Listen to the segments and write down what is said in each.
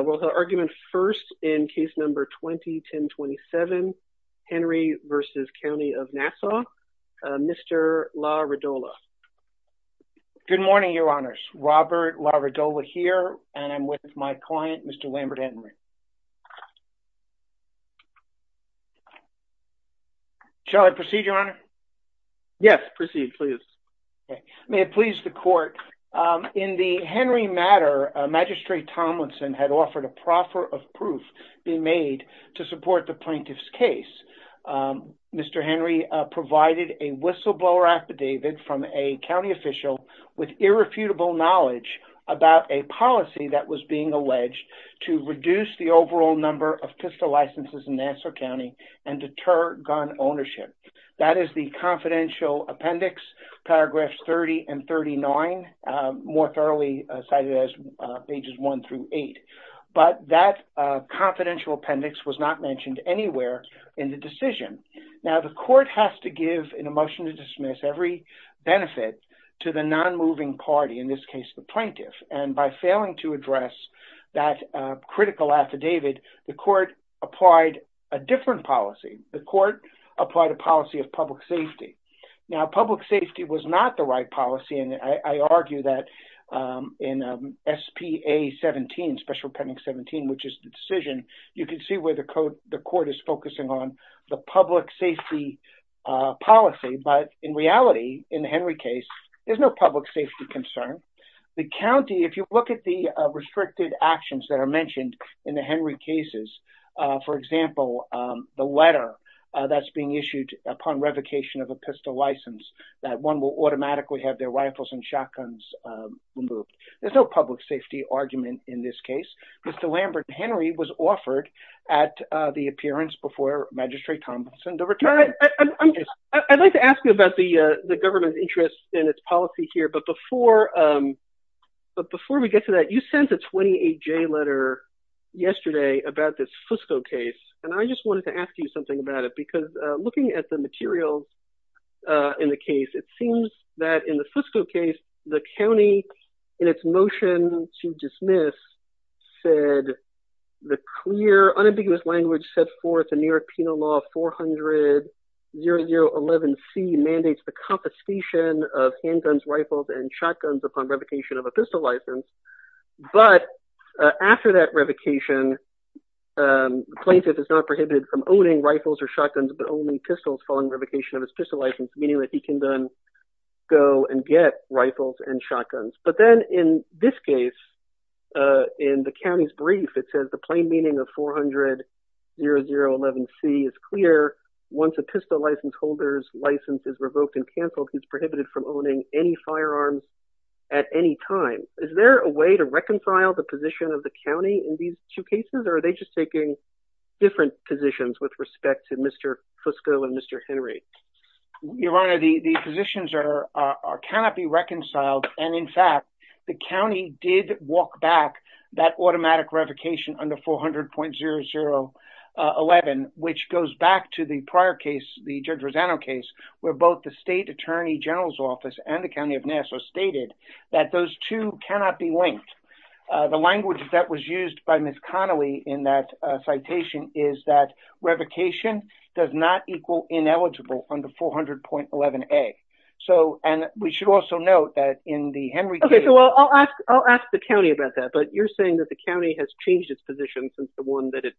We'll hear argument first in case number 20-1027, Henry v. County of Nassau. Mr. LaRidola. Good morning, your honors. Robert LaRidola here, and I'm with my client, Mr. Lambert Henry. Shall I proceed, your honor? Yes, proceed, please. May it please the court. In the Henry matter, Magistrate Tomlinson had offered a proffer of proof be made to support the plaintiff's case. Mr. Henry provided a whistleblower affidavit from a county official with irrefutable knowledge about a policy that was being alleged to reduce the overall number of pistol licenses in Nassau County and deter gun ownership. That is the confidential appendix, paragraphs 30 and 39, more thoroughly cited as pages 1 through 8. But that confidential appendix was not mentioned anywhere in the decision. Now, the court has to give in a motion to dismiss every benefit to the non-moving party, in this case, the plaintiff. And by failing to address that critical affidavit, the court applied a different policy. The court applied a policy of public safety. Now, public safety was not the right policy, and I argue that in SPA 17, special appendix 17, which is the decision, you can see where the court is focusing on the public safety policy. But in reality, in the Henry case, there's no public safety concern. The county, if you look at the restricted actions that are mentioned in the Henry cases, for example, the letter that's being issued upon revocation of a pistol license, that one will automatically have their rifles and shotguns removed. There's no public safety argument in this case. Mr. Lambert, Henry was offered at the appearance before Magistrate Thompson to return. I'd like to ask you about the government's interest in its policy here, but before we get to that, you sent a 28-J letter yesterday about this Fusco case, and I just wanted to ask you something about it, because looking at the materials in the case, it seems that in the Fusco case, the county, in its motion to dismiss, said the clear, unambiguous language set forth in New York Penal Law 400-0011C mandates the shotguns and rifles upon revocation of a pistol license. But after that revocation, the plaintiff is not prohibited from owning rifles or shotguns, but only pistols following revocation of his pistol license, meaning that he can then go and get rifles and shotguns. But then in this case, in the county's brief, it says the plain meaning of 400-0011C is clear. Once a pistol license holder's license is revoked and canceled, he's prohibited from firing firearms at any time. Is there a way to reconcile the position of the county in these two cases, or are they just taking different positions with respect to Mr. Fusco and Mr. Henry? Your Honor, the positions cannot be reconciled, and in fact, the county did walk back that automatic revocation under 400-0011, which goes back to the prior case, the Judge stated that those two cannot be linked. The language that was used by Ms. Connolly in that citation is that revocation does not equal ineligible under 400-0011A. So, and we should also note that in the Henry case... Okay, so I'll ask the county about that, but you're saying that the county has changed its position since the one that it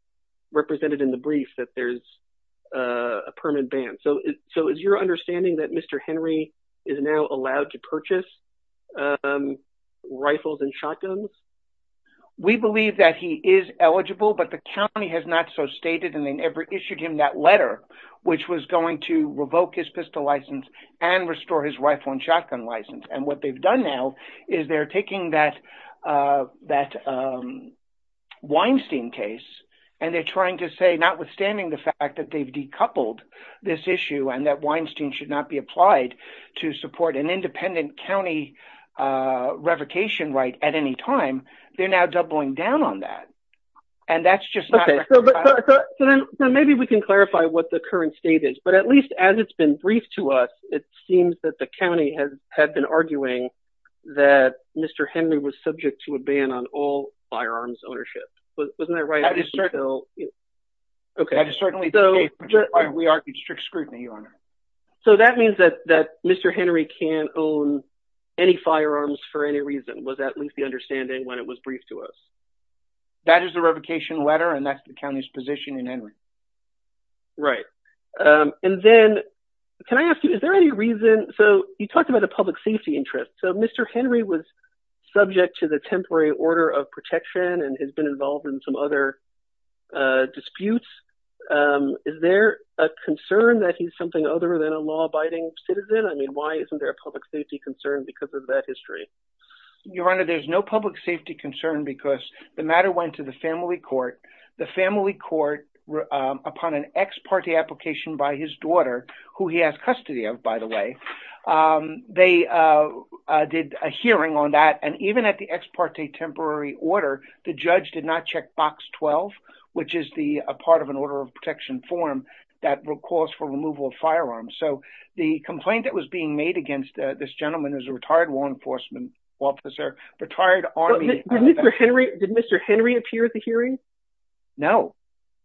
represented in the brief, that there's a permanent ban. So, is your understanding that Mr. Henry is now allowed to purchase rifles and shotguns? We believe that he is eligible, but the county has not so stated, and they never issued him that letter, which was going to revoke his pistol license and restore his rifle and shotgun license. And what they've done now is they're taking that Weinstein case, and they're trying to say, notwithstanding the fact that they've decoupled this issue and that Weinstein should not be applied to support an independent county revocation right at any time, they're now doubling down on that. And that's just not... Okay, so then maybe we can clarify what the current state is, but at least as it's been briefed to us, it seems that the county had been arguing that Mr. Henry was subject to a ban on all firearms ownership. Wasn't that right? That is certainly the case. We argued strict scrutiny, Your Honor. So, that means that Mr. Henry can't own any firearms for any reason, was at least the understanding when it was briefed to us? That is the revocation letter, and that's the county's position in Henry. Right. And then, can I ask you, is there any reason... So, you talked about the public safety interest. So, Mr. Henry was subject to the disputes. Is there a concern that he's something other than a law-abiding citizen? I mean, why isn't there a public safety concern because of that history? Your Honor, there's no public safety concern because the matter went to the family court. The family court, upon an ex parte application by his daughter, who he has custody of, by the way, they did a hearing on that. And even at the ex parte temporary order, the judge did not check box 12, which is a part of an order of protection form that calls for removal of firearms. So, the complaint that was being made against this gentleman is a retired law enforcement officer, retired army... Did Mr. Henry appear at the hearing? No,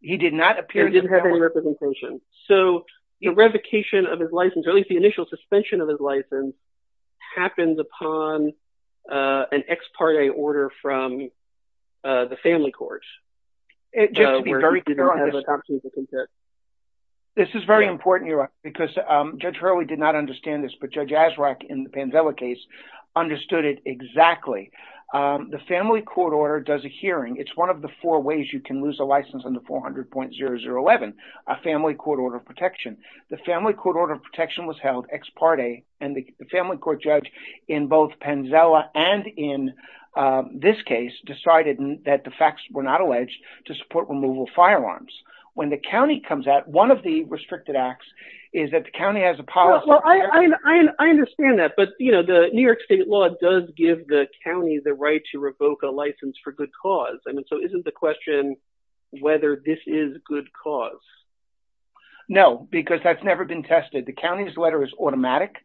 he did not appear at the hearing. He didn't have any representation. So, the revocation of his license, or at least the initial suspension of his license, happens upon an ex parte order from the family court. This is very important, Your Honor, because Judge Hurley did not understand this, but Judge Azraq in the Pansela case understood it exactly. The family court order does a hearing. It's one of the four ways you can lose a license under 400.0011, a family court order of protection. The family court order of protection was held ex parte, and the family court judge in both Pansela and in this case decided that the facts were not alleged to support removal of firearms. When the county comes out, one of the restricted acts is that the county has a policy... Well, I understand that, but the New York State law does give the county the right to revoke a cause. So, isn't the question whether this is good cause? No, because that's never been tested. The county's letter is automatic,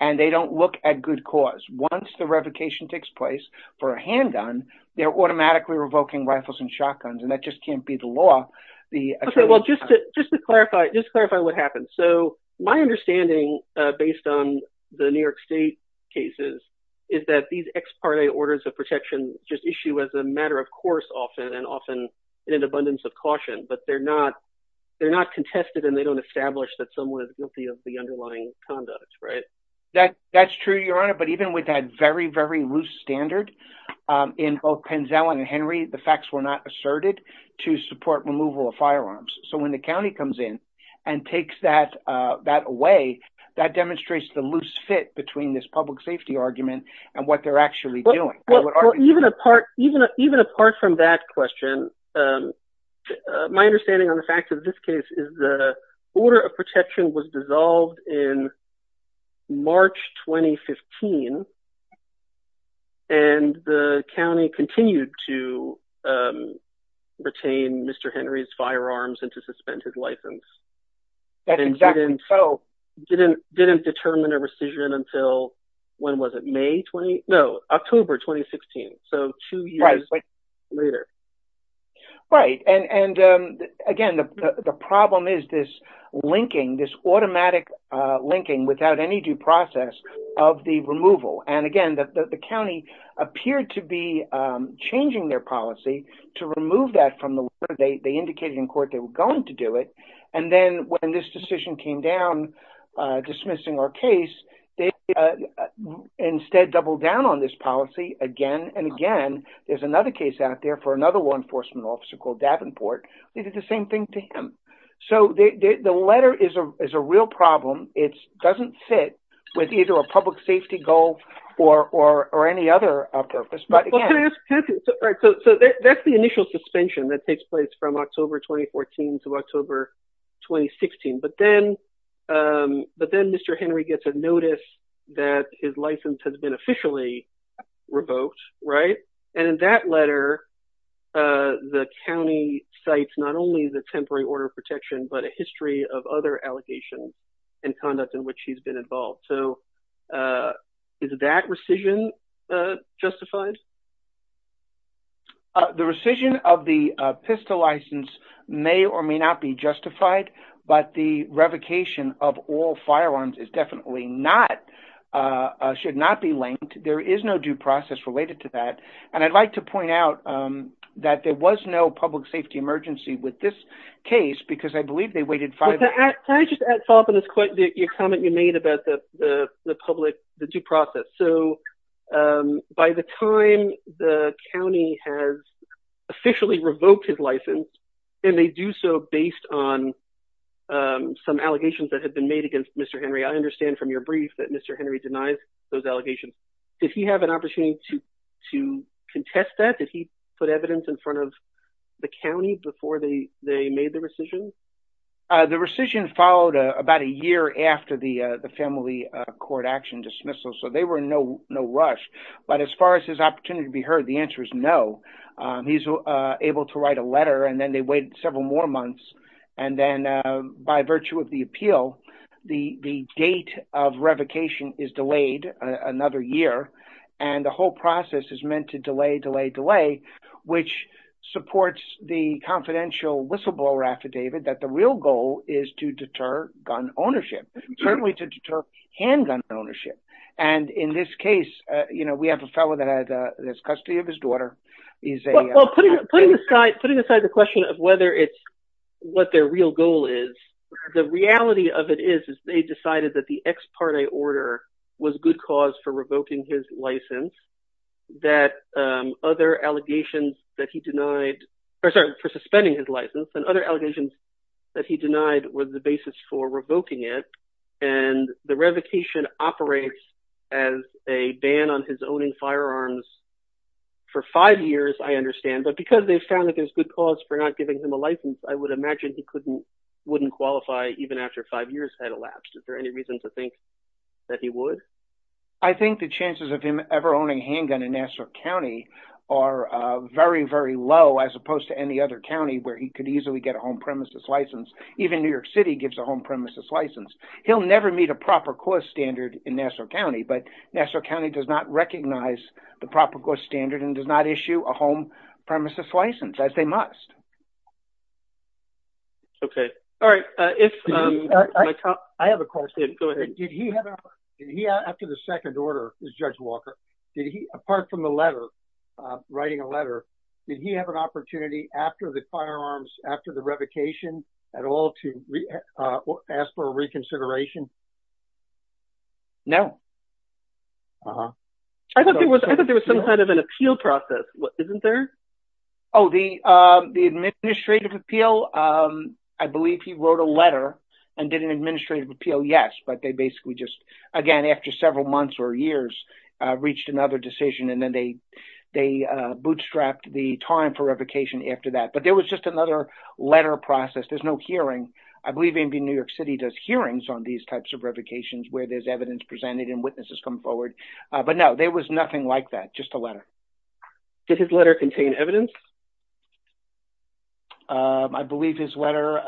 and they don't look at good cause. Once the revocation takes place for a handgun, they're automatically revoking rifles and shotguns, and that just can't be the law. Well, just to clarify what happened. So, my understanding, based on the New York State cases, is that these ex parte orders of protection just issue as a matter of course often and often in an abundance of caution, but they're not contested and they don't establish that someone is guilty of the underlying conduct, right? That's true, Your Honor, but even with that very, very loose standard in both Pansela and Henry, the facts were not asserted to support removal of firearms. So, when the county comes in and takes that away, that demonstrates the safety argument and what they're actually doing. Well, even apart from that question, my understanding on the fact of this case is the order of protection was dissolved in March 2015, and the county continued to retain Mr. Henry's firearms and to suspend his license. That's exactly so. And didn't determine a rescission until, when was it, May 20? No, October 2016. So, two years later. Right, and again, the problem is this linking, this automatic linking without any due process of the removal. And again, the county appeared to be changing their policy to remove that from the order. They indicated in court they were going to do it. And then when this decision came down, dismissing our case, they instead doubled down on this policy again and again. There's another case out there for another law enforcement officer called Davenport. They did the same thing to him. So, the letter is a real problem. It doesn't fit with either a public safety goal or any other purpose. So, that's the initial suspension that takes place from October 2014 to October 2016. But then Mr. Henry gets a notice that his license has been officially revoked, right? And in that letter, the county cites not only the temporary order of protection, but a history of revocation. Is that justified? The rescission of the pistol license may or may not be justified, but the revocation of all firearms is definitely not, should not be linked. There is no due process related to that. And I'd like to point out that there was no public safety emergency with this case, because I believe they waited five years. Can I just add, follow up on this comment you made about the public, the due process. So, by the time the county has officially revoked his license, and they do so based on some allegations that have been made against Mr. Henry, I understand from your brief that Mr. Henry denies those allegations. Did he have an opportunity to contest that? Did he put evidence in front of the county before they made the rescission? The rescission followed about a year after the family court action dismissal, so they were in no rush. But as far as his opportunity to be heard, the answer is no. He's able to write a letter, and then they wait several more months. And then by virtue of the appeal, the date of revocation is delayed another year. And the whole process is meant to delay, delay, delay, which supports the confidential whistleblower affidavit that the real goal is to deter gun ownership, certainly to deter handgun ownership. And in this case, you know, we have a fellow that has custody of his daughter. Well, putting aside the question of whether it's what their real goal is, the reality of it is, is they decided that the ex parte order was good cause for revoking his that other allegations that he denied, or sorry, for suspending his license and other allegations that he denied was the basis for revoking it. And the revocation operates as a ban on his owning firearms for five years, I understand. But because they found that there's good cause for not giving him a license, I would imagine he couldn't, wouldn't qualify even after five years had I think the chances of him ever owning a handgun in Nassau County are very, very low as opposed to any other county where he could easily get a home premises license. Even New York City gives a home premises license. He'll never meet a proper court standard in Nassau County, but Nassau County does not recognize the proper court standard and does not issue a home premises license as they must. Okay. All right. If I have a question, go ahead. Did he have, did he after the second order, Judge Walker, did he, apart from the letter, writing a letter, did he have an opportunity after the firearms, after the revocation at all to ask for a reconsideration? No. I thought there was, I thought there was some kind of an appeal process. Isn't there? Oh, the, the administrative appeal. I believe he wrote a letter and did an administrative appeal. Yes. But they basically just, again, after several months or years reached another decision and then they, they bootstrapped the time for revocation after that. But there was just another letter process. There's no hearing. I believe maybe New York City does hearings on these types of revocations where there's evidence presented and witnesses come forward. But no, there was nothing like that. Just a letter. Did his letter contain evidence? I believe his letter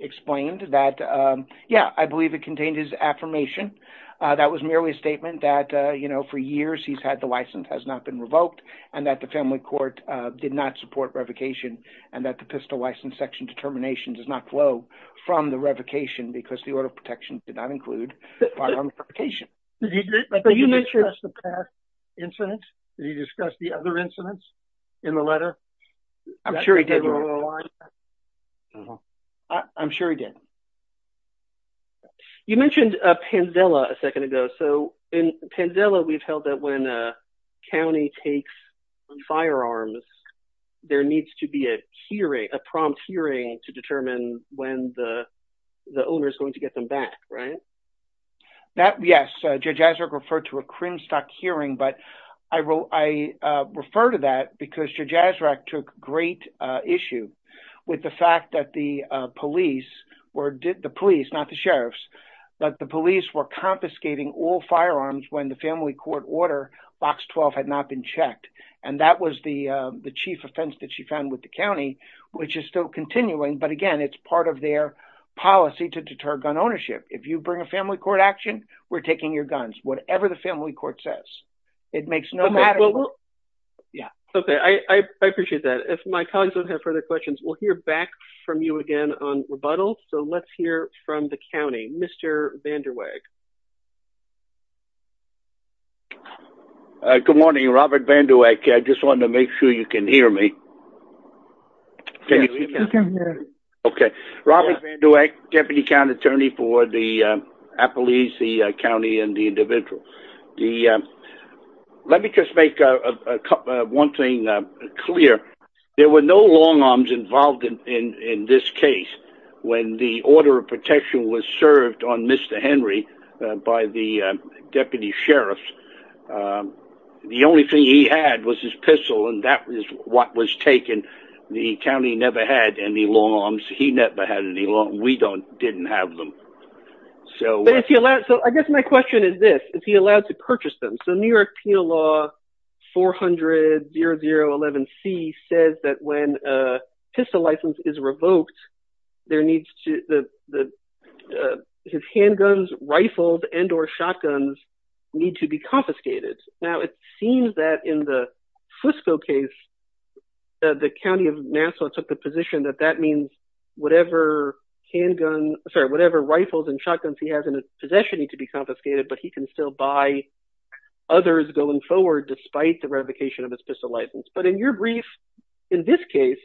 explained that. Yeah, I believe it contained his affirmation. That was merely a statement that, you know, for years he's had the license has not been revoked and that the family court did not support revocation and that the pistol license section determination does not flow from the revocation because the order of protection did not include firearm provocation. Did he, did he discuss the past incident? Did he discuss the other incidents in the letter? I'm sure he did. I'm sure he did. You mentioned Pandela a second ago. So in Pandela, we've held that when a county takes firearms, there needs to be a hearing, a prompt hearing to determine when the, the owner is going to get them back, right? That, yes, Judge Azarick referred to a crimestock hearing, but I, I refer to that because Judge Azarick took great issue with the fact that the police were, the police, not the sheriffs, but the police were confiscating all firearms when the family court order box 12 had not been checked. And that was the, the chief offense that she found with the county, which is still continuing. But again, it's part of their policy to deter gun ownership. If you bring a family court action, we're taking your guns, whatever the family court says, it makes no matter. Yeah. Okay. I appreciate that. If my colleagues don't have further questions, we'll hear back from you again on rebuttal. So let's hear from the county, Mr. Vanderweg. Good morning, Robert Vanderweg. I just wanted to make sure you can hear me. Okay. Robert Vanderweg, deputy county attorney for the Appalachee County and the individual. The let me just make one thing clear. There were no long arms involved in, in, in this case when the order of protection was served on Mr. Henry by the deputy sheriff. The only thing he had was his pistol and that is what was taken. The county never had any long arms. He never had any long. We don't, didn't have them. So. But if he allowed, so I guess my question is this, is he allowed to purchase them? So New York Penal Law 4000011C says that when a pistol license is revoked, there needs to, his handguns, rifles, and or shotguns need to be confiscated. Now it seems that in the Fusco case, the county of Nassau took the position that that means whatever handgun, sorry, whatever rifles and shotguns he has in his possession need to be confiscated, but he can still buy others going forward despite the revocation of pistol license. But in your brief, in this case,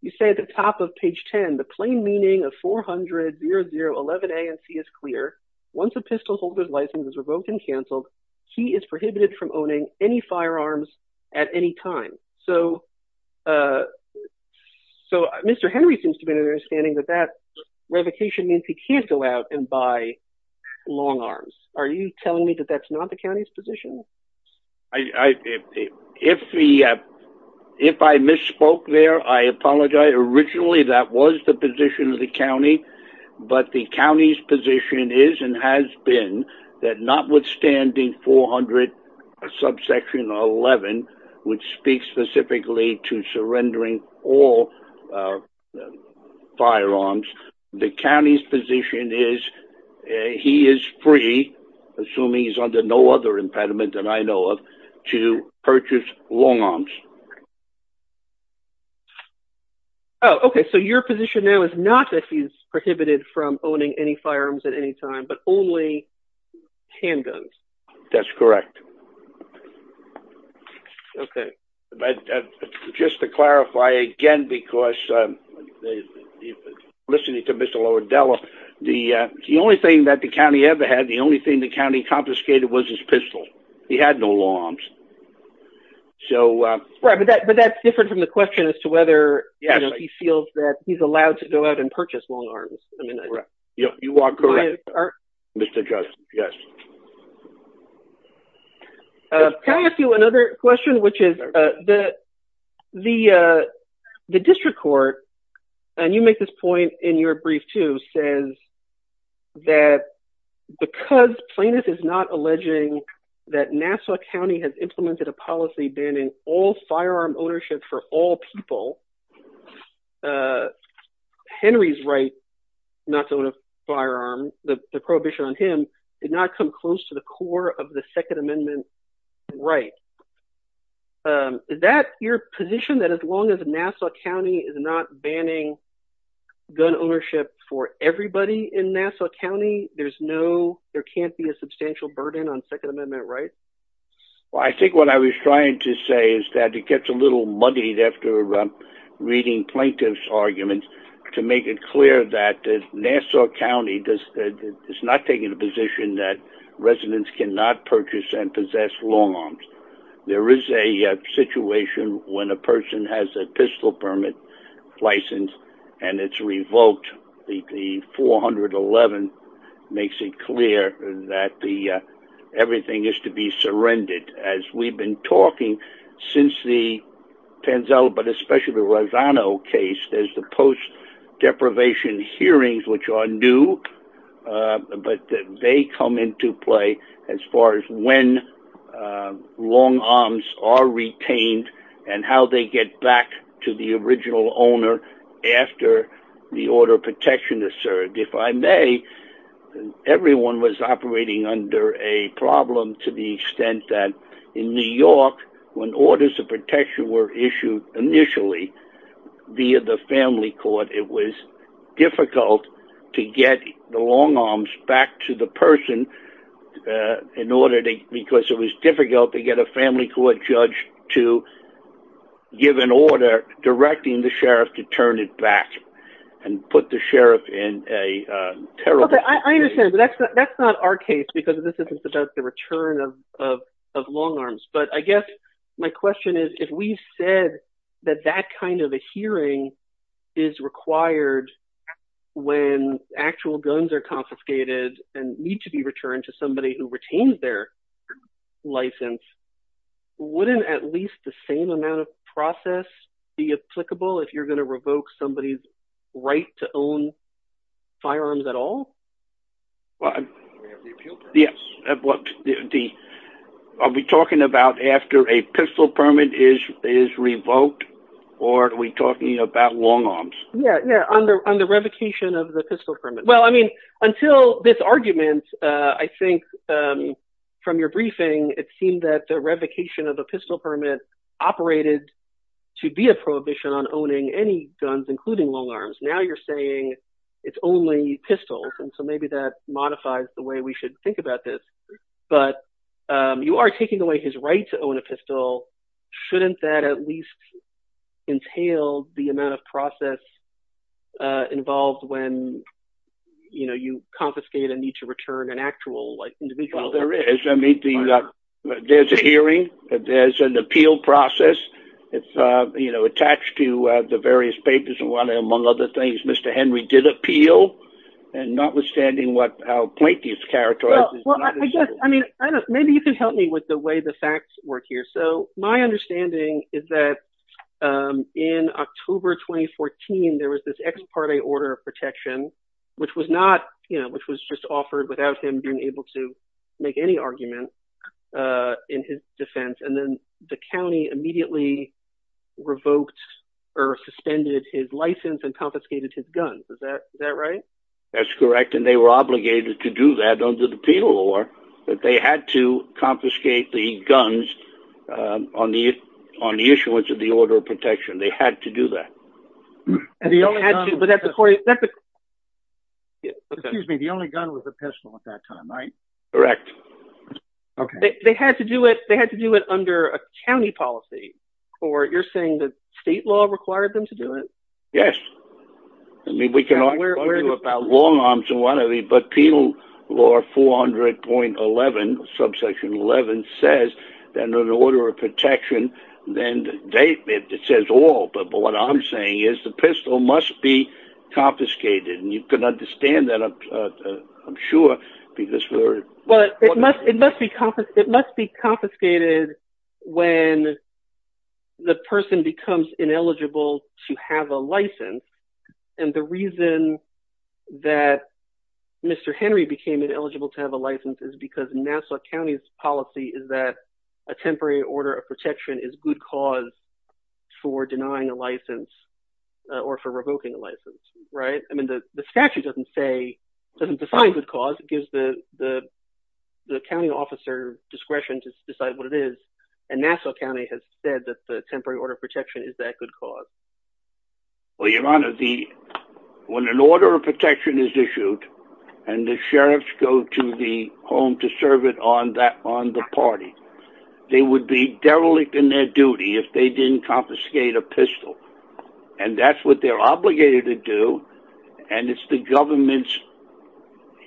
you say at the top of page 10, the plain meaning of 4000011A and C is clear. Once a pistol holder's license is revoked and canceled, he is prohibited from owning any firearms at any time. So, so Mr. Henry seems to be understanding that that revocation means he can't go out and buy long arms. Are you telling me that that's not the county's position? If he, if I misspoke there, I apologize. Originally that was the position of the county, but the county's position is and has been that notwithstanding 400 subsection 11, which speaks specifically to surrendering all firearms, the county's position is he is free, assuming he's under no other impediment than I know of, to purchase long arms. Oh, okay. So your position now is not that he's prohibited from owning any firearms at any time, but only handguns. That's correct. Okay. But just to clarify again, because they, listening to Mr. Lower Dela, the, the only thing that the county ever had, the only thing the county confiscated was his pistol. He had no longs. So, right. But that, but that's different from the question as to whether he feels that he's allowed to go out and purchase long arms. I mean, you are correct, Mr. Judge. Yes. Can I ask you another question, which is the, the, the district court, and you make this point in your brief too, says that because Plaintiff is not alleging that Nassau County has implemented a policy banning all firearm ownership for all people, Henry's right not to own a firearm, the prohibition on him did not come close to the second amendment. Right. Is that your position that as long as Nassau County is not banning gun ownership for everybody in Nassau County, there's no, there can't be a substantial burden on second amendment, right? Well, I think what I was trying to say is that it gets a little muddied after reading plaintiff's arguments to make it clear that Nassau County does, is not taking a position that residents cannot purchase and possess long arms. There is a situation when a person has a pistol permit license and it's revoked. The 411 makes it clear that the, everything is to be surrendered as we've been talking since the post-deprivation hearings, which are new, but they come into play as far as when long arms are retained and how they get back to the original owner after the order of protection is served. If I may, everyone was operating under a problem to the extent that in New York, when orders of protection were issued initially via the family court, it was difficult to get the long arms back to the person in order to, because it was difficult to get a family court judge to give an order directing the sheriff to turn it back and put the sheriff in a terrible position. I understand, but that's not our case because this isn't about the return of long arms. But I guess my question is, if we said that that kind of a hearing is required when actual guns are confiscated and need to be returned to somebody who retains their license, wouldn't at least the same amount of process be applicable if you're going to revoke somebody's right to own firearms at all? Are we talking about after a pistol permit is revoked, or are we talking about long arms? Yeah, yeah, on the revocation of the pistol permit. Well, I mean, until this argument, I think from your briefing, it seemed that the Now you're saying it's only pistols, and so maybe that modifies the way we should think about this. But you are taking away his right to own a pistol. Shouldn't that at least entail the amount of process involved when you confiscate and need to return an actual individual? Well, there is. I mean, there's a hearing. There's an appeal process. It's attached to the various papers, among other things. Mr. Henry did appeal, and notwithstanding how Planky is characterized. Well, I guess, I mean, I don't know. Maybe you can help me with the way the facts work here. So my understanding is that in October 2014, there was this ex parte order of protection, which was just offered without him being able to make any argument in his defense. And then the county immediately revoked or suspended his license and confiscated his guns. Is that right? That's correct. And they were obligated to do that under the penal law, that they had to confiscate the guns on the issuance of the order of protection. They had to do that. And the only gun was a pistol at that time, right? Correct. Okay. They had to do it under a county policy, or you're saying that state law required them to do it? Yes. I mean, we can argue about long arms and what have you, but penal law 400.11, subsection 11, says that an order of protection, then it says all. But what I'm saying is the pistol must be confiscated. And you can understand that, I'm sure, because we're... But it must be confiscated when the person becomes ineligible to have a license. And the reason that Mr. Henry became ineligible to have a license is because Nassau County's policy is that a temporary order of protection is good cause for denying a license or for revoking a license, right? I mean, the statute doesn't say, doesn't define good cause. It gives the county officer discretion to decide what it is. And Nassau County has said that the temporary order of protection is that good cause. Well, your honor, when an order of protection is issued and the sheriffs go to the home to serve it on the party, they would be derelict in their and it's the government's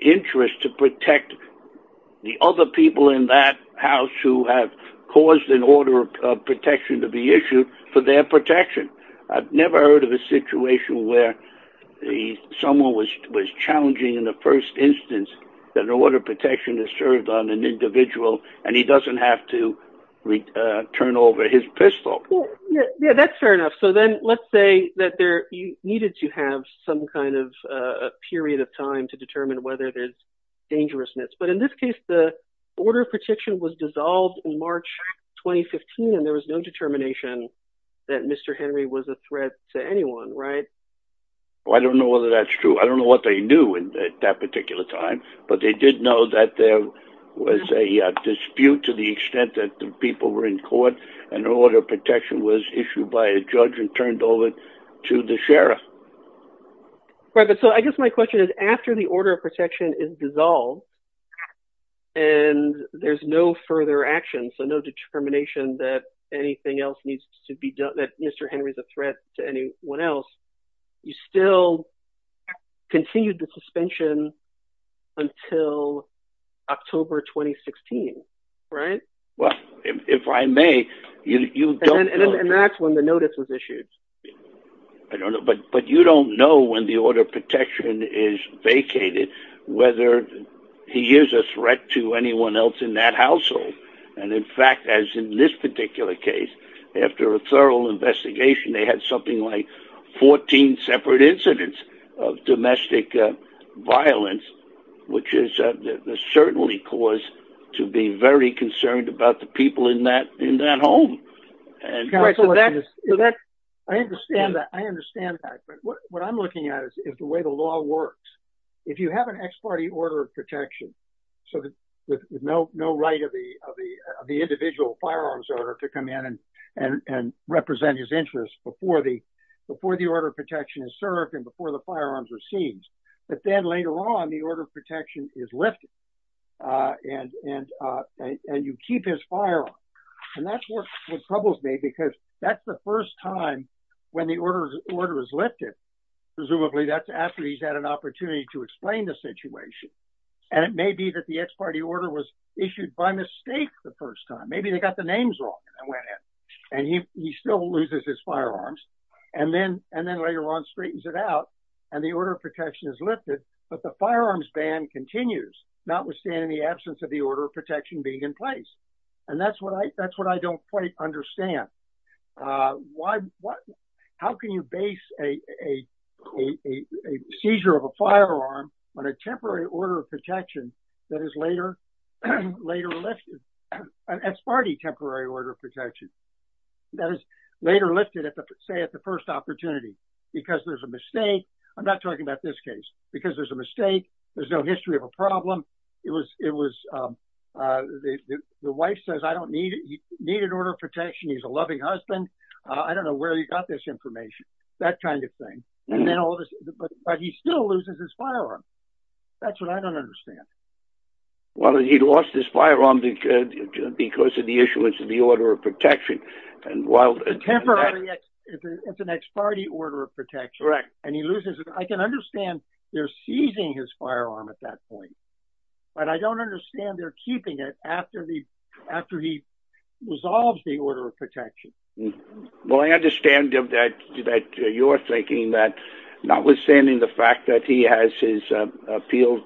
interest to protect the other people in that house who have caused an order of protection to be issued for their protection. I've never heard of a situation where someone was challenging in the first instance that an order of protection is served on an individual and he doesn't have to return over his pistol. Yeah, that's fair enough. So let's say that there needed to have some kind of a period of time to determine whether there's dangerousness. But in this case, the order of protection was dissolved in March, 2015, and there was no determination that Mr. Henry was a threat to anyone, right? I don't know whether that's true. I don't know what they knew at that particular time, but they did know that there was a dispute to the extent that the people were in court and an order of protection was issued by a judge and turned over to the sheriff. Right, but so I guess my question is, after the order of protection is dissolved and there's no further action, so no determination that anything else needs to be done, that Mr. Henry is a threat to anyone else, you still continue the suspension until October 2016, right? Well, if I may, and that's when the notice was issued. I don't know, but you don't know when the order of protection is vacated whether he is a threat to anyone else in that household. And in fact, as in this particular case, after a thorough investigation, they had something like 14 separate incidents of domestic violence, which is certainly cause to be very concerned about the people in that home. I understand that. I understand that. But what I'm looking at is the way the law works. If you have an ex parte order of protection, so with no right of the individual firearms owner to come in and represent his interests before the order of protection is served and the firearms are seized. But then later on, the order of protection is lifted and you keep his firearm. And that's what troubles me because that's the first time when the order is lifted. Presumably that's after he's had an opportunity to explain the situation. And it may be that the ex parte order was issued by mistake the first time. Maybe they got the and the order of protection is lifted, but the firearms ban continues, notwithstanding the absence of the order of protection being in place. And that's what I don't quite understand. How can you base a seizure of a firearm on a temporary order of protection that is later lifted? An ex parte temporary order of protection that is later lifted at the first opportunity because there's a mistake. I'm not talking about this case because there's a mistake. There's no history of a problem. The wife says I don't need it. He needed order of protection. He's a loving husband. I don't know where he got this information, that kind of thing. But he still loses his firearm. That's what I don't understand. Well, he lost his firearm because of the issuance of the order of protection. Well, temporary is an ex parte order of protection. I can understand they're seizing his firearm at that point, but I don't understand they're keeping it after he resolves the order of protection. Well, I understand that you're thinking that notwithstanding the fact that he has his appealed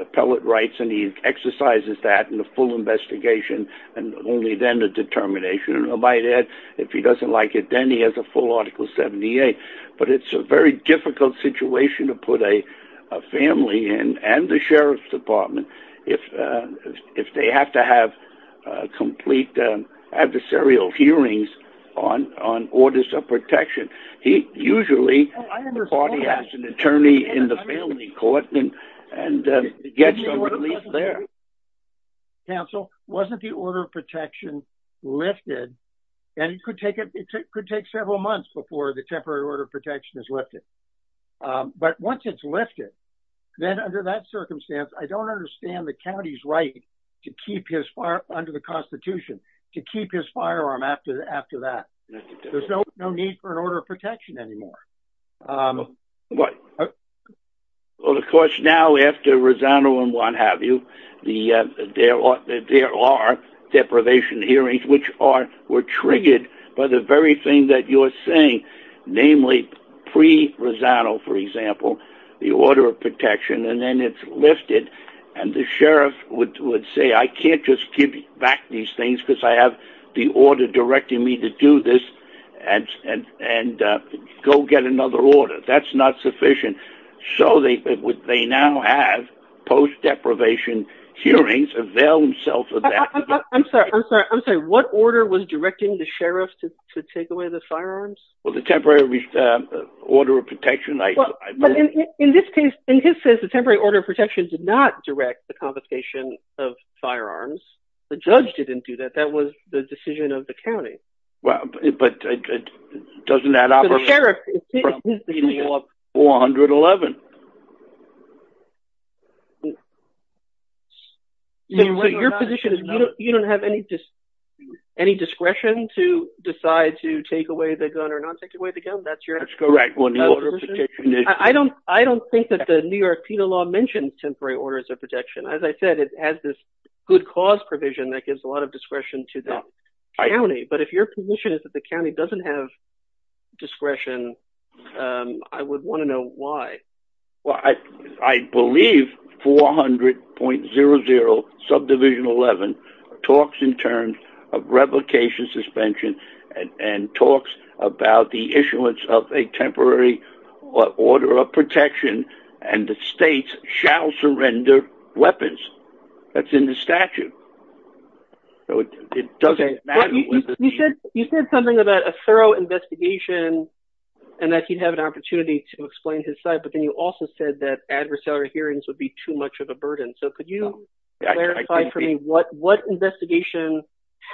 appellate rights and he exercises that in the investigation and only then the determination. And I might add if he doesn't like it, then he has a full article 78. But it's a very difficult situation to put a family in and the sheriff's department if they have to have complete adversarial hearings on orders of protection. He usually has an attorney in the family court and gets relief there. Counsel, wasn't the order of protection lifted? And it could take several months before the temporary order of protection is lifted. But once it's lifted, then under that circumstance, I don't understand the county's right to keep his firearm under the Constitution, to keep his firearm after that. There's no need for an order of protection anymore. Well, of course, now after Rosano and what have you, there are deprivation hearings which were triggered by the very thing that you're saying, namely pre-Rosano, for example, the order of protection. And then it's lifted and the sheriff would say, I can't just give back these things because I have the order directing me to do this and go get another order. That's not sufficient. So they now have post deprivation hearings avail themselves of that. I'm sorry. I'm sorry. I'm sorry. What order was directing the sheriff to take away the firearms? Well, the temporary order of protection. In this case, in his case, the temporary order of protection did not direct the confiscation of firearms. The judge didn't do that. That was the decision of the county. Well, but it doesn't add up. So the sheriff, it's his decision. Well, 111. So your position is you don't have any discretion to decide to take away the gun or not take away the gun. That's your order of protection? That's correct. I don't think that the New York Penal Law mentioned temporary orders of protection. As I said, it has this good cause provision that gives a lot of discretion to the county. But if your position is that the county doesn't have discretion, I would want to know why. Well, I believe 400.00 subdivision 11 talks in terms of replication suspension and talks about the issuance of a temporary order of protection, and the states shall surrender weapons. That's in the statute. So it doesn't matter. You said something about a thorough investigation and that he'd have an opportunity to explain his side. But then you also said that adversarial hearings would be too much of a burden. So could you clarify for me what investigation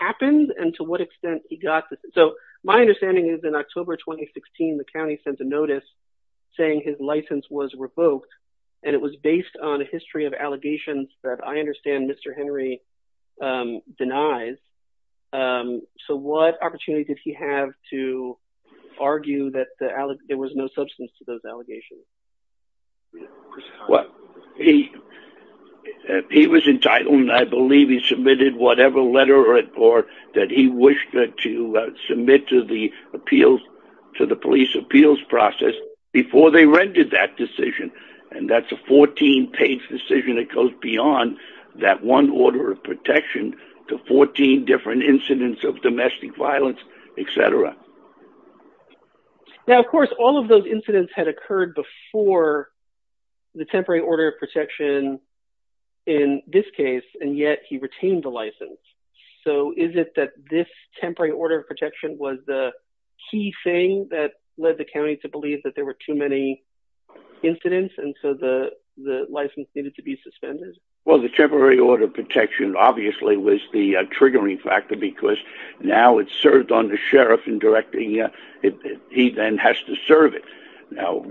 happened and to what extent he got this? So my understanding is in October 2016, the county sent a notice saying his license was revoked, and it was based on a history of allegations that I understand Mr. Henry denies. So what opportunity did he have to argue that there was no substance to those allegations? Well, he was entitled, and I believe he submitted whatever letter or that he wished to submit to the police appeals process before they rendered that decision. And that's a 14-page decision that goes beyond that one order of protection to 14 different incidents of domestic violence, et cetera. Now, of course, all of those incidents had occurred before the temporary order of protection in this case, and yet he retained the license. So is it that this temporary order of protection was the key thing that led the county to believe that there were too many incidents and so the license needed to be suspended? Well, the temporary order of protection obviously was the triggering factor, because now it's served on the sheriff in directing, he then has to serve it. Now,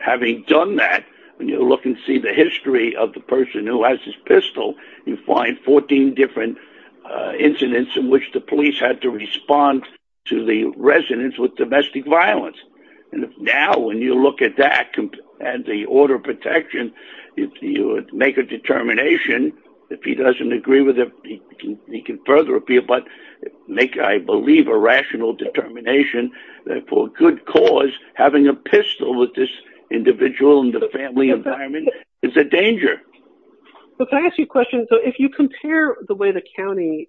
having done that, when you look and see the history of the person who has his pistol, you find 14 different incidents in which the police had to respond to the residents with domestic violence. And now when you look at that and the order of protection, if you make a determination, if he doesn't agree with it, he can further appeal, but make, I believe, a rational determination that for good cause, having a pistol with this individual in the family environment is a danger. But can I ask you a question? So if you compare the way the county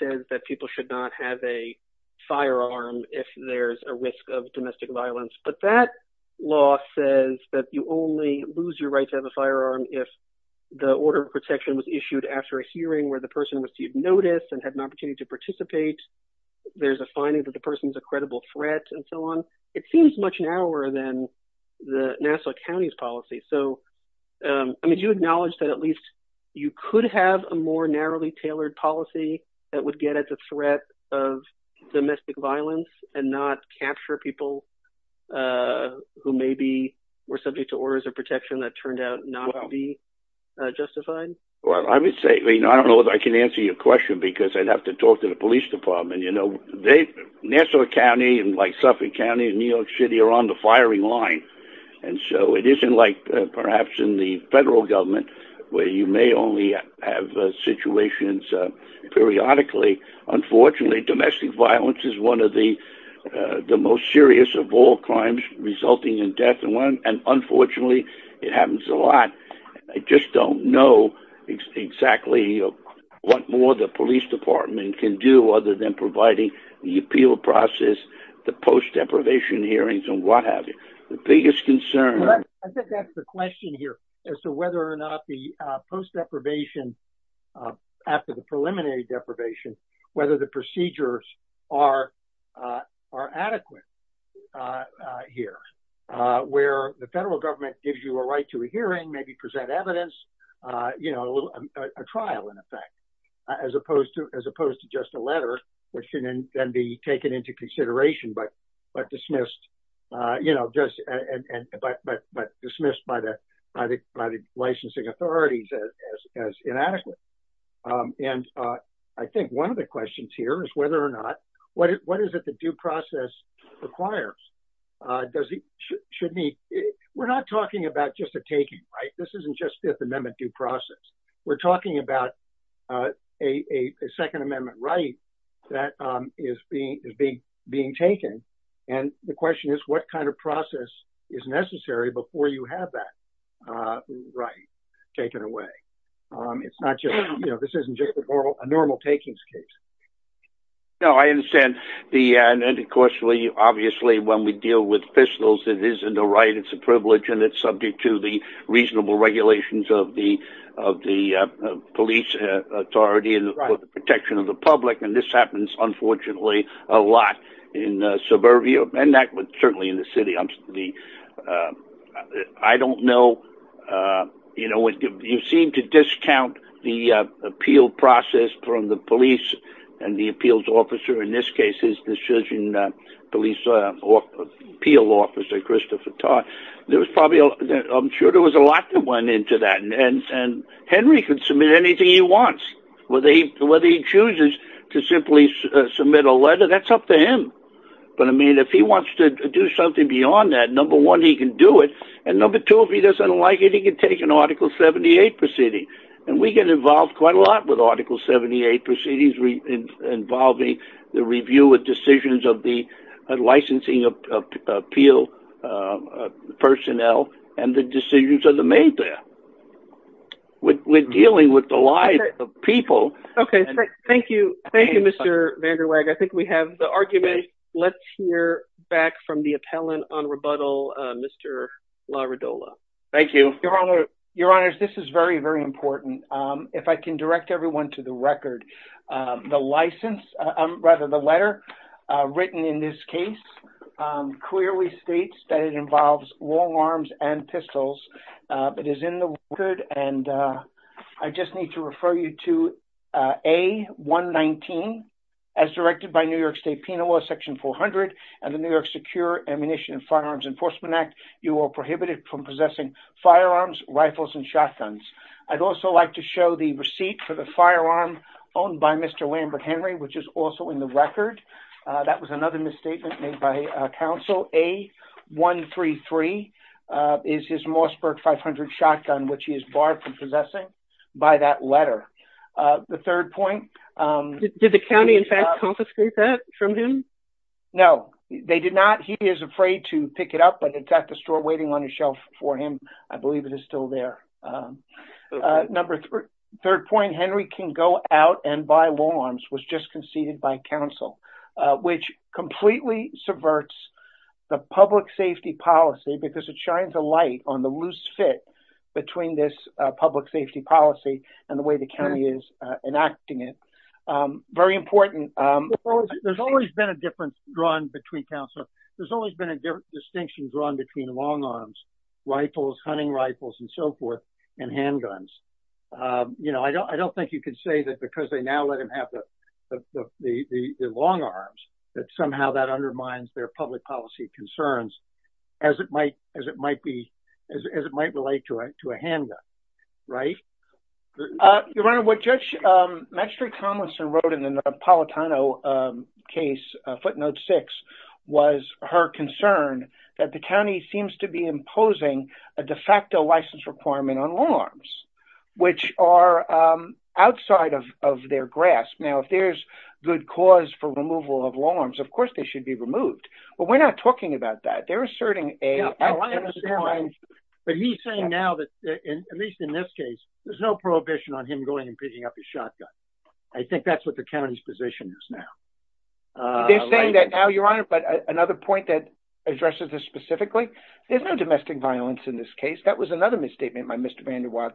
says that people should not have a firearm if there's a risk of domestic violence, but that law says that you only lose your right to have a firearm if the order of protection was issued after a hearing where the person received notice and had an opportunity to participate. There's a finding that the person's a credible threat and so on. It seems much narrower than the Nassau County's policy. So, I mean, do you acknowledge that at least you could have a more that would get at the threat of domestic violence and not capture people who maybe were subject to orders of protection that turned out not to be justified? Well, I would say, I mean, I don't know if I can answer your question because I'd have to talk to the police department. You know, Nassau County and like Suffolk County and New York City are on the firing line. And so it isn't like perhaps in the federal government where you may only have situations periodically. Unfortunately, domestic violence is one of the most serious of all crimes resulting in death. And unfortunately, it happens a lot. I just don't know exactly what more the police department can do other than providing the appeal process, the post deprivation hearings and what have you. The biggest concern... ...after the preliminary deprivation, whether the procedures are adequate here, where the federal government gives you a right to a hearing, maybe present evidence, you know, a trial in effect, as opposed to just a letter, which should then be taken into consideration, but dismissed by the licensing authorities as inadequate. And I think one of the questions here is whether or not, what is it the due process requires? We're not talking about just a taking, right? This isn't just Fifth Amendment due process. We're talking about a Second Amendment right that is being taken. And the question is, what kind of process is necessary before you have that right taken away? It's not just, you know, this isn't just a normal takings case. No, I understand. And of course, obviously, when we deal with officials, it is a right, it's a privilege, and it's subject to the protection of the public. And this happens, unfortunately, a lot in suburbia, and certainly in the city. I don't know, you know, you seem to discount the appeal process from the police and the appeals officer, in this case, the surgeon police appeal officer, Christopher Todd. There was probably, I'm sure there was a lot that went into that. And Henry could submit anything he wants, whether he chooses to simply submit a letter, that's up to him. But I mean, if he wants to do something beyond that, number one, he can do it. And number two, if he doesn't like it, he can take an Article 78 proceeding. And we get involved quite a lot with Article 78 proceedings, involving the review of decisions of the licensing appeal personnel, and the decisions of the people. Okay, thank you. Thank you, Mr. VanderWeghe. I think we have the argument. Let's hear back from the appellant on rebuttal, Mr. Laradola. Thank you, your honor. Your honors, this is very, very important. If I can direct everyone to the record, the license, rather the letter written in this case, clearly states that it involves long arms and pistols. It is in the record. And I just need to refer you to A-119, as directed by New York State Penal Law Section 400, and the New York Secure Ammunition and Firearms Enforcement Act, you are prohibited from possessing firearms, rifles, and shotguns. I'd also like to show the receipt for the firearm owned by Mr. Lambert Henry, which is also in the record. That was is his Mossberg 500 shotgun, which he is barred from possessing by that letter. The third point. Did the county confiscate that from him? No, they did not. He is afraid to pick it up, but it's at the store waiting on the shelf for him. I believe it is still there. Number third point, Henry can go out and buy long arms was just conceded by counsel, which completely subverts the public safety policy because it shines a light on the loose fit between this public safety policy and the way the county is enacting it. Very important. There's always been a difference drawn between counsel. There's always been a distinction drawn between long arms, rifles, hunting rifles, and so forth, and handguns. You know, I don't think you can say that because they now let him have the long arms that somehow that undermines their public policy concerns as it might relate to a handgun, right? Your Honor, what Judge Maxtra Conlison wrote in the Napolitano case, footnote six, was her concern that the county seems to be imposing a de facto license requirement on long arms, which are outside of their grasp. Now, if there's good cause for removal of long arms, of course, they should be removed, but we're not talking about that. They're asserting a... But he's saying now that, at least in this case, there's no prohibition on him going and picking up his shotgun. I think that's what the county's position is now. They're saying that now, but another point that addresses this specifically, there's no domestic violence in this case. That was another misstatement by Mr. Van Der Waal.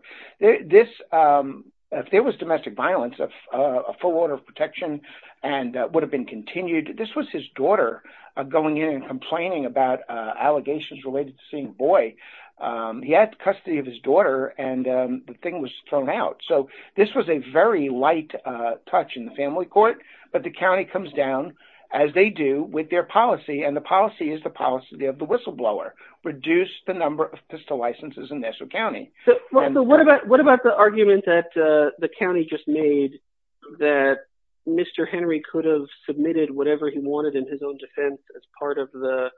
If there was domestic violence, a full order of protection would have been continued. This was his daughter going in and complaining about allegations related to seeing Boyd. He had custody of his daughter, and the thing was thrown out. So this was a very light touch in the family court, but the county comes down, as they do, with their policy, and the policy is the policy of the whistleblower. Reduce the number of pistol licenses in Nassau County. What about the argument that the county just made that Mr. Henry could have submitted whatever he wanted in his own defense as part of the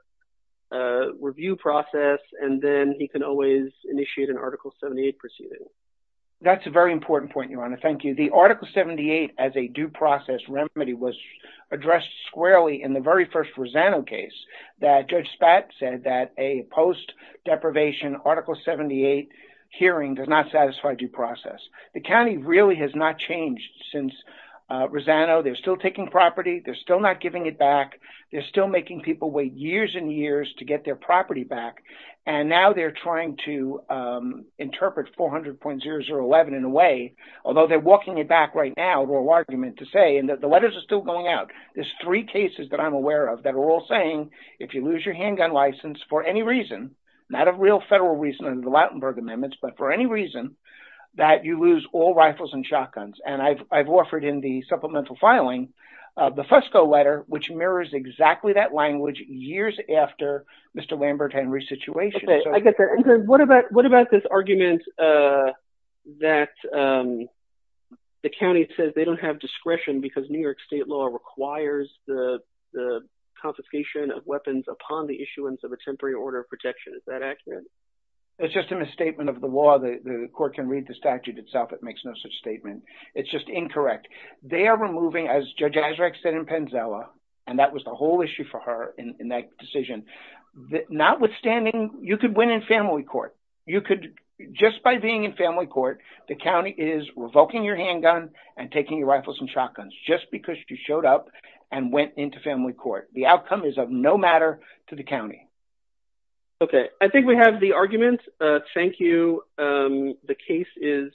review process, and then he can always initiate an Article 78 proceeding? That's a very important point, Your Honor. Thank you. The Article 78 as a due process remedy was addressed squarely in the very first Rosano case, that Judge Spatz said that a post-deprivation Article 78 hearing does not satisfy due process. The county really has not changed since Rosano. They're still taking property. They're still not giving it back. They're still making people wait years and years to get their property back, and now they're trying to interpret 400.0011 in a way, although they're walking it back right now to a argument to say, and the letters are still going out, there's three cases that I'm aware of that are all saying if you lose your handgun license for any reason, not a real federal reason under the Lautenberg Amendments, but for any reason that you lose all rifles and shotguns, and I've offered in the supplemental filing the Fusco letter, which mirrors exactly that language years after Mr. Lambert Henry's situation. Okay, I get that. What about this argument that the county says they don't have discretion because New York state law requires the confiscation of weapons upon the issuance of a temporary order of protection? Is that accurate? It's just a misstatement of the law. The court can read the statute itself. It makes no such statement. It's just incorrect. They are removing, as Judge Azraq said in Penzella, and that was the whole issue for her in that decision, notwithstanding, you could win in family court. Just by being in family court, the county is revoking your handgun and taking your rifles and shotguns just because you showed up and went into family court. The outcome is of no matter to the county. Okay, I think we have the argument. Thank you. The case is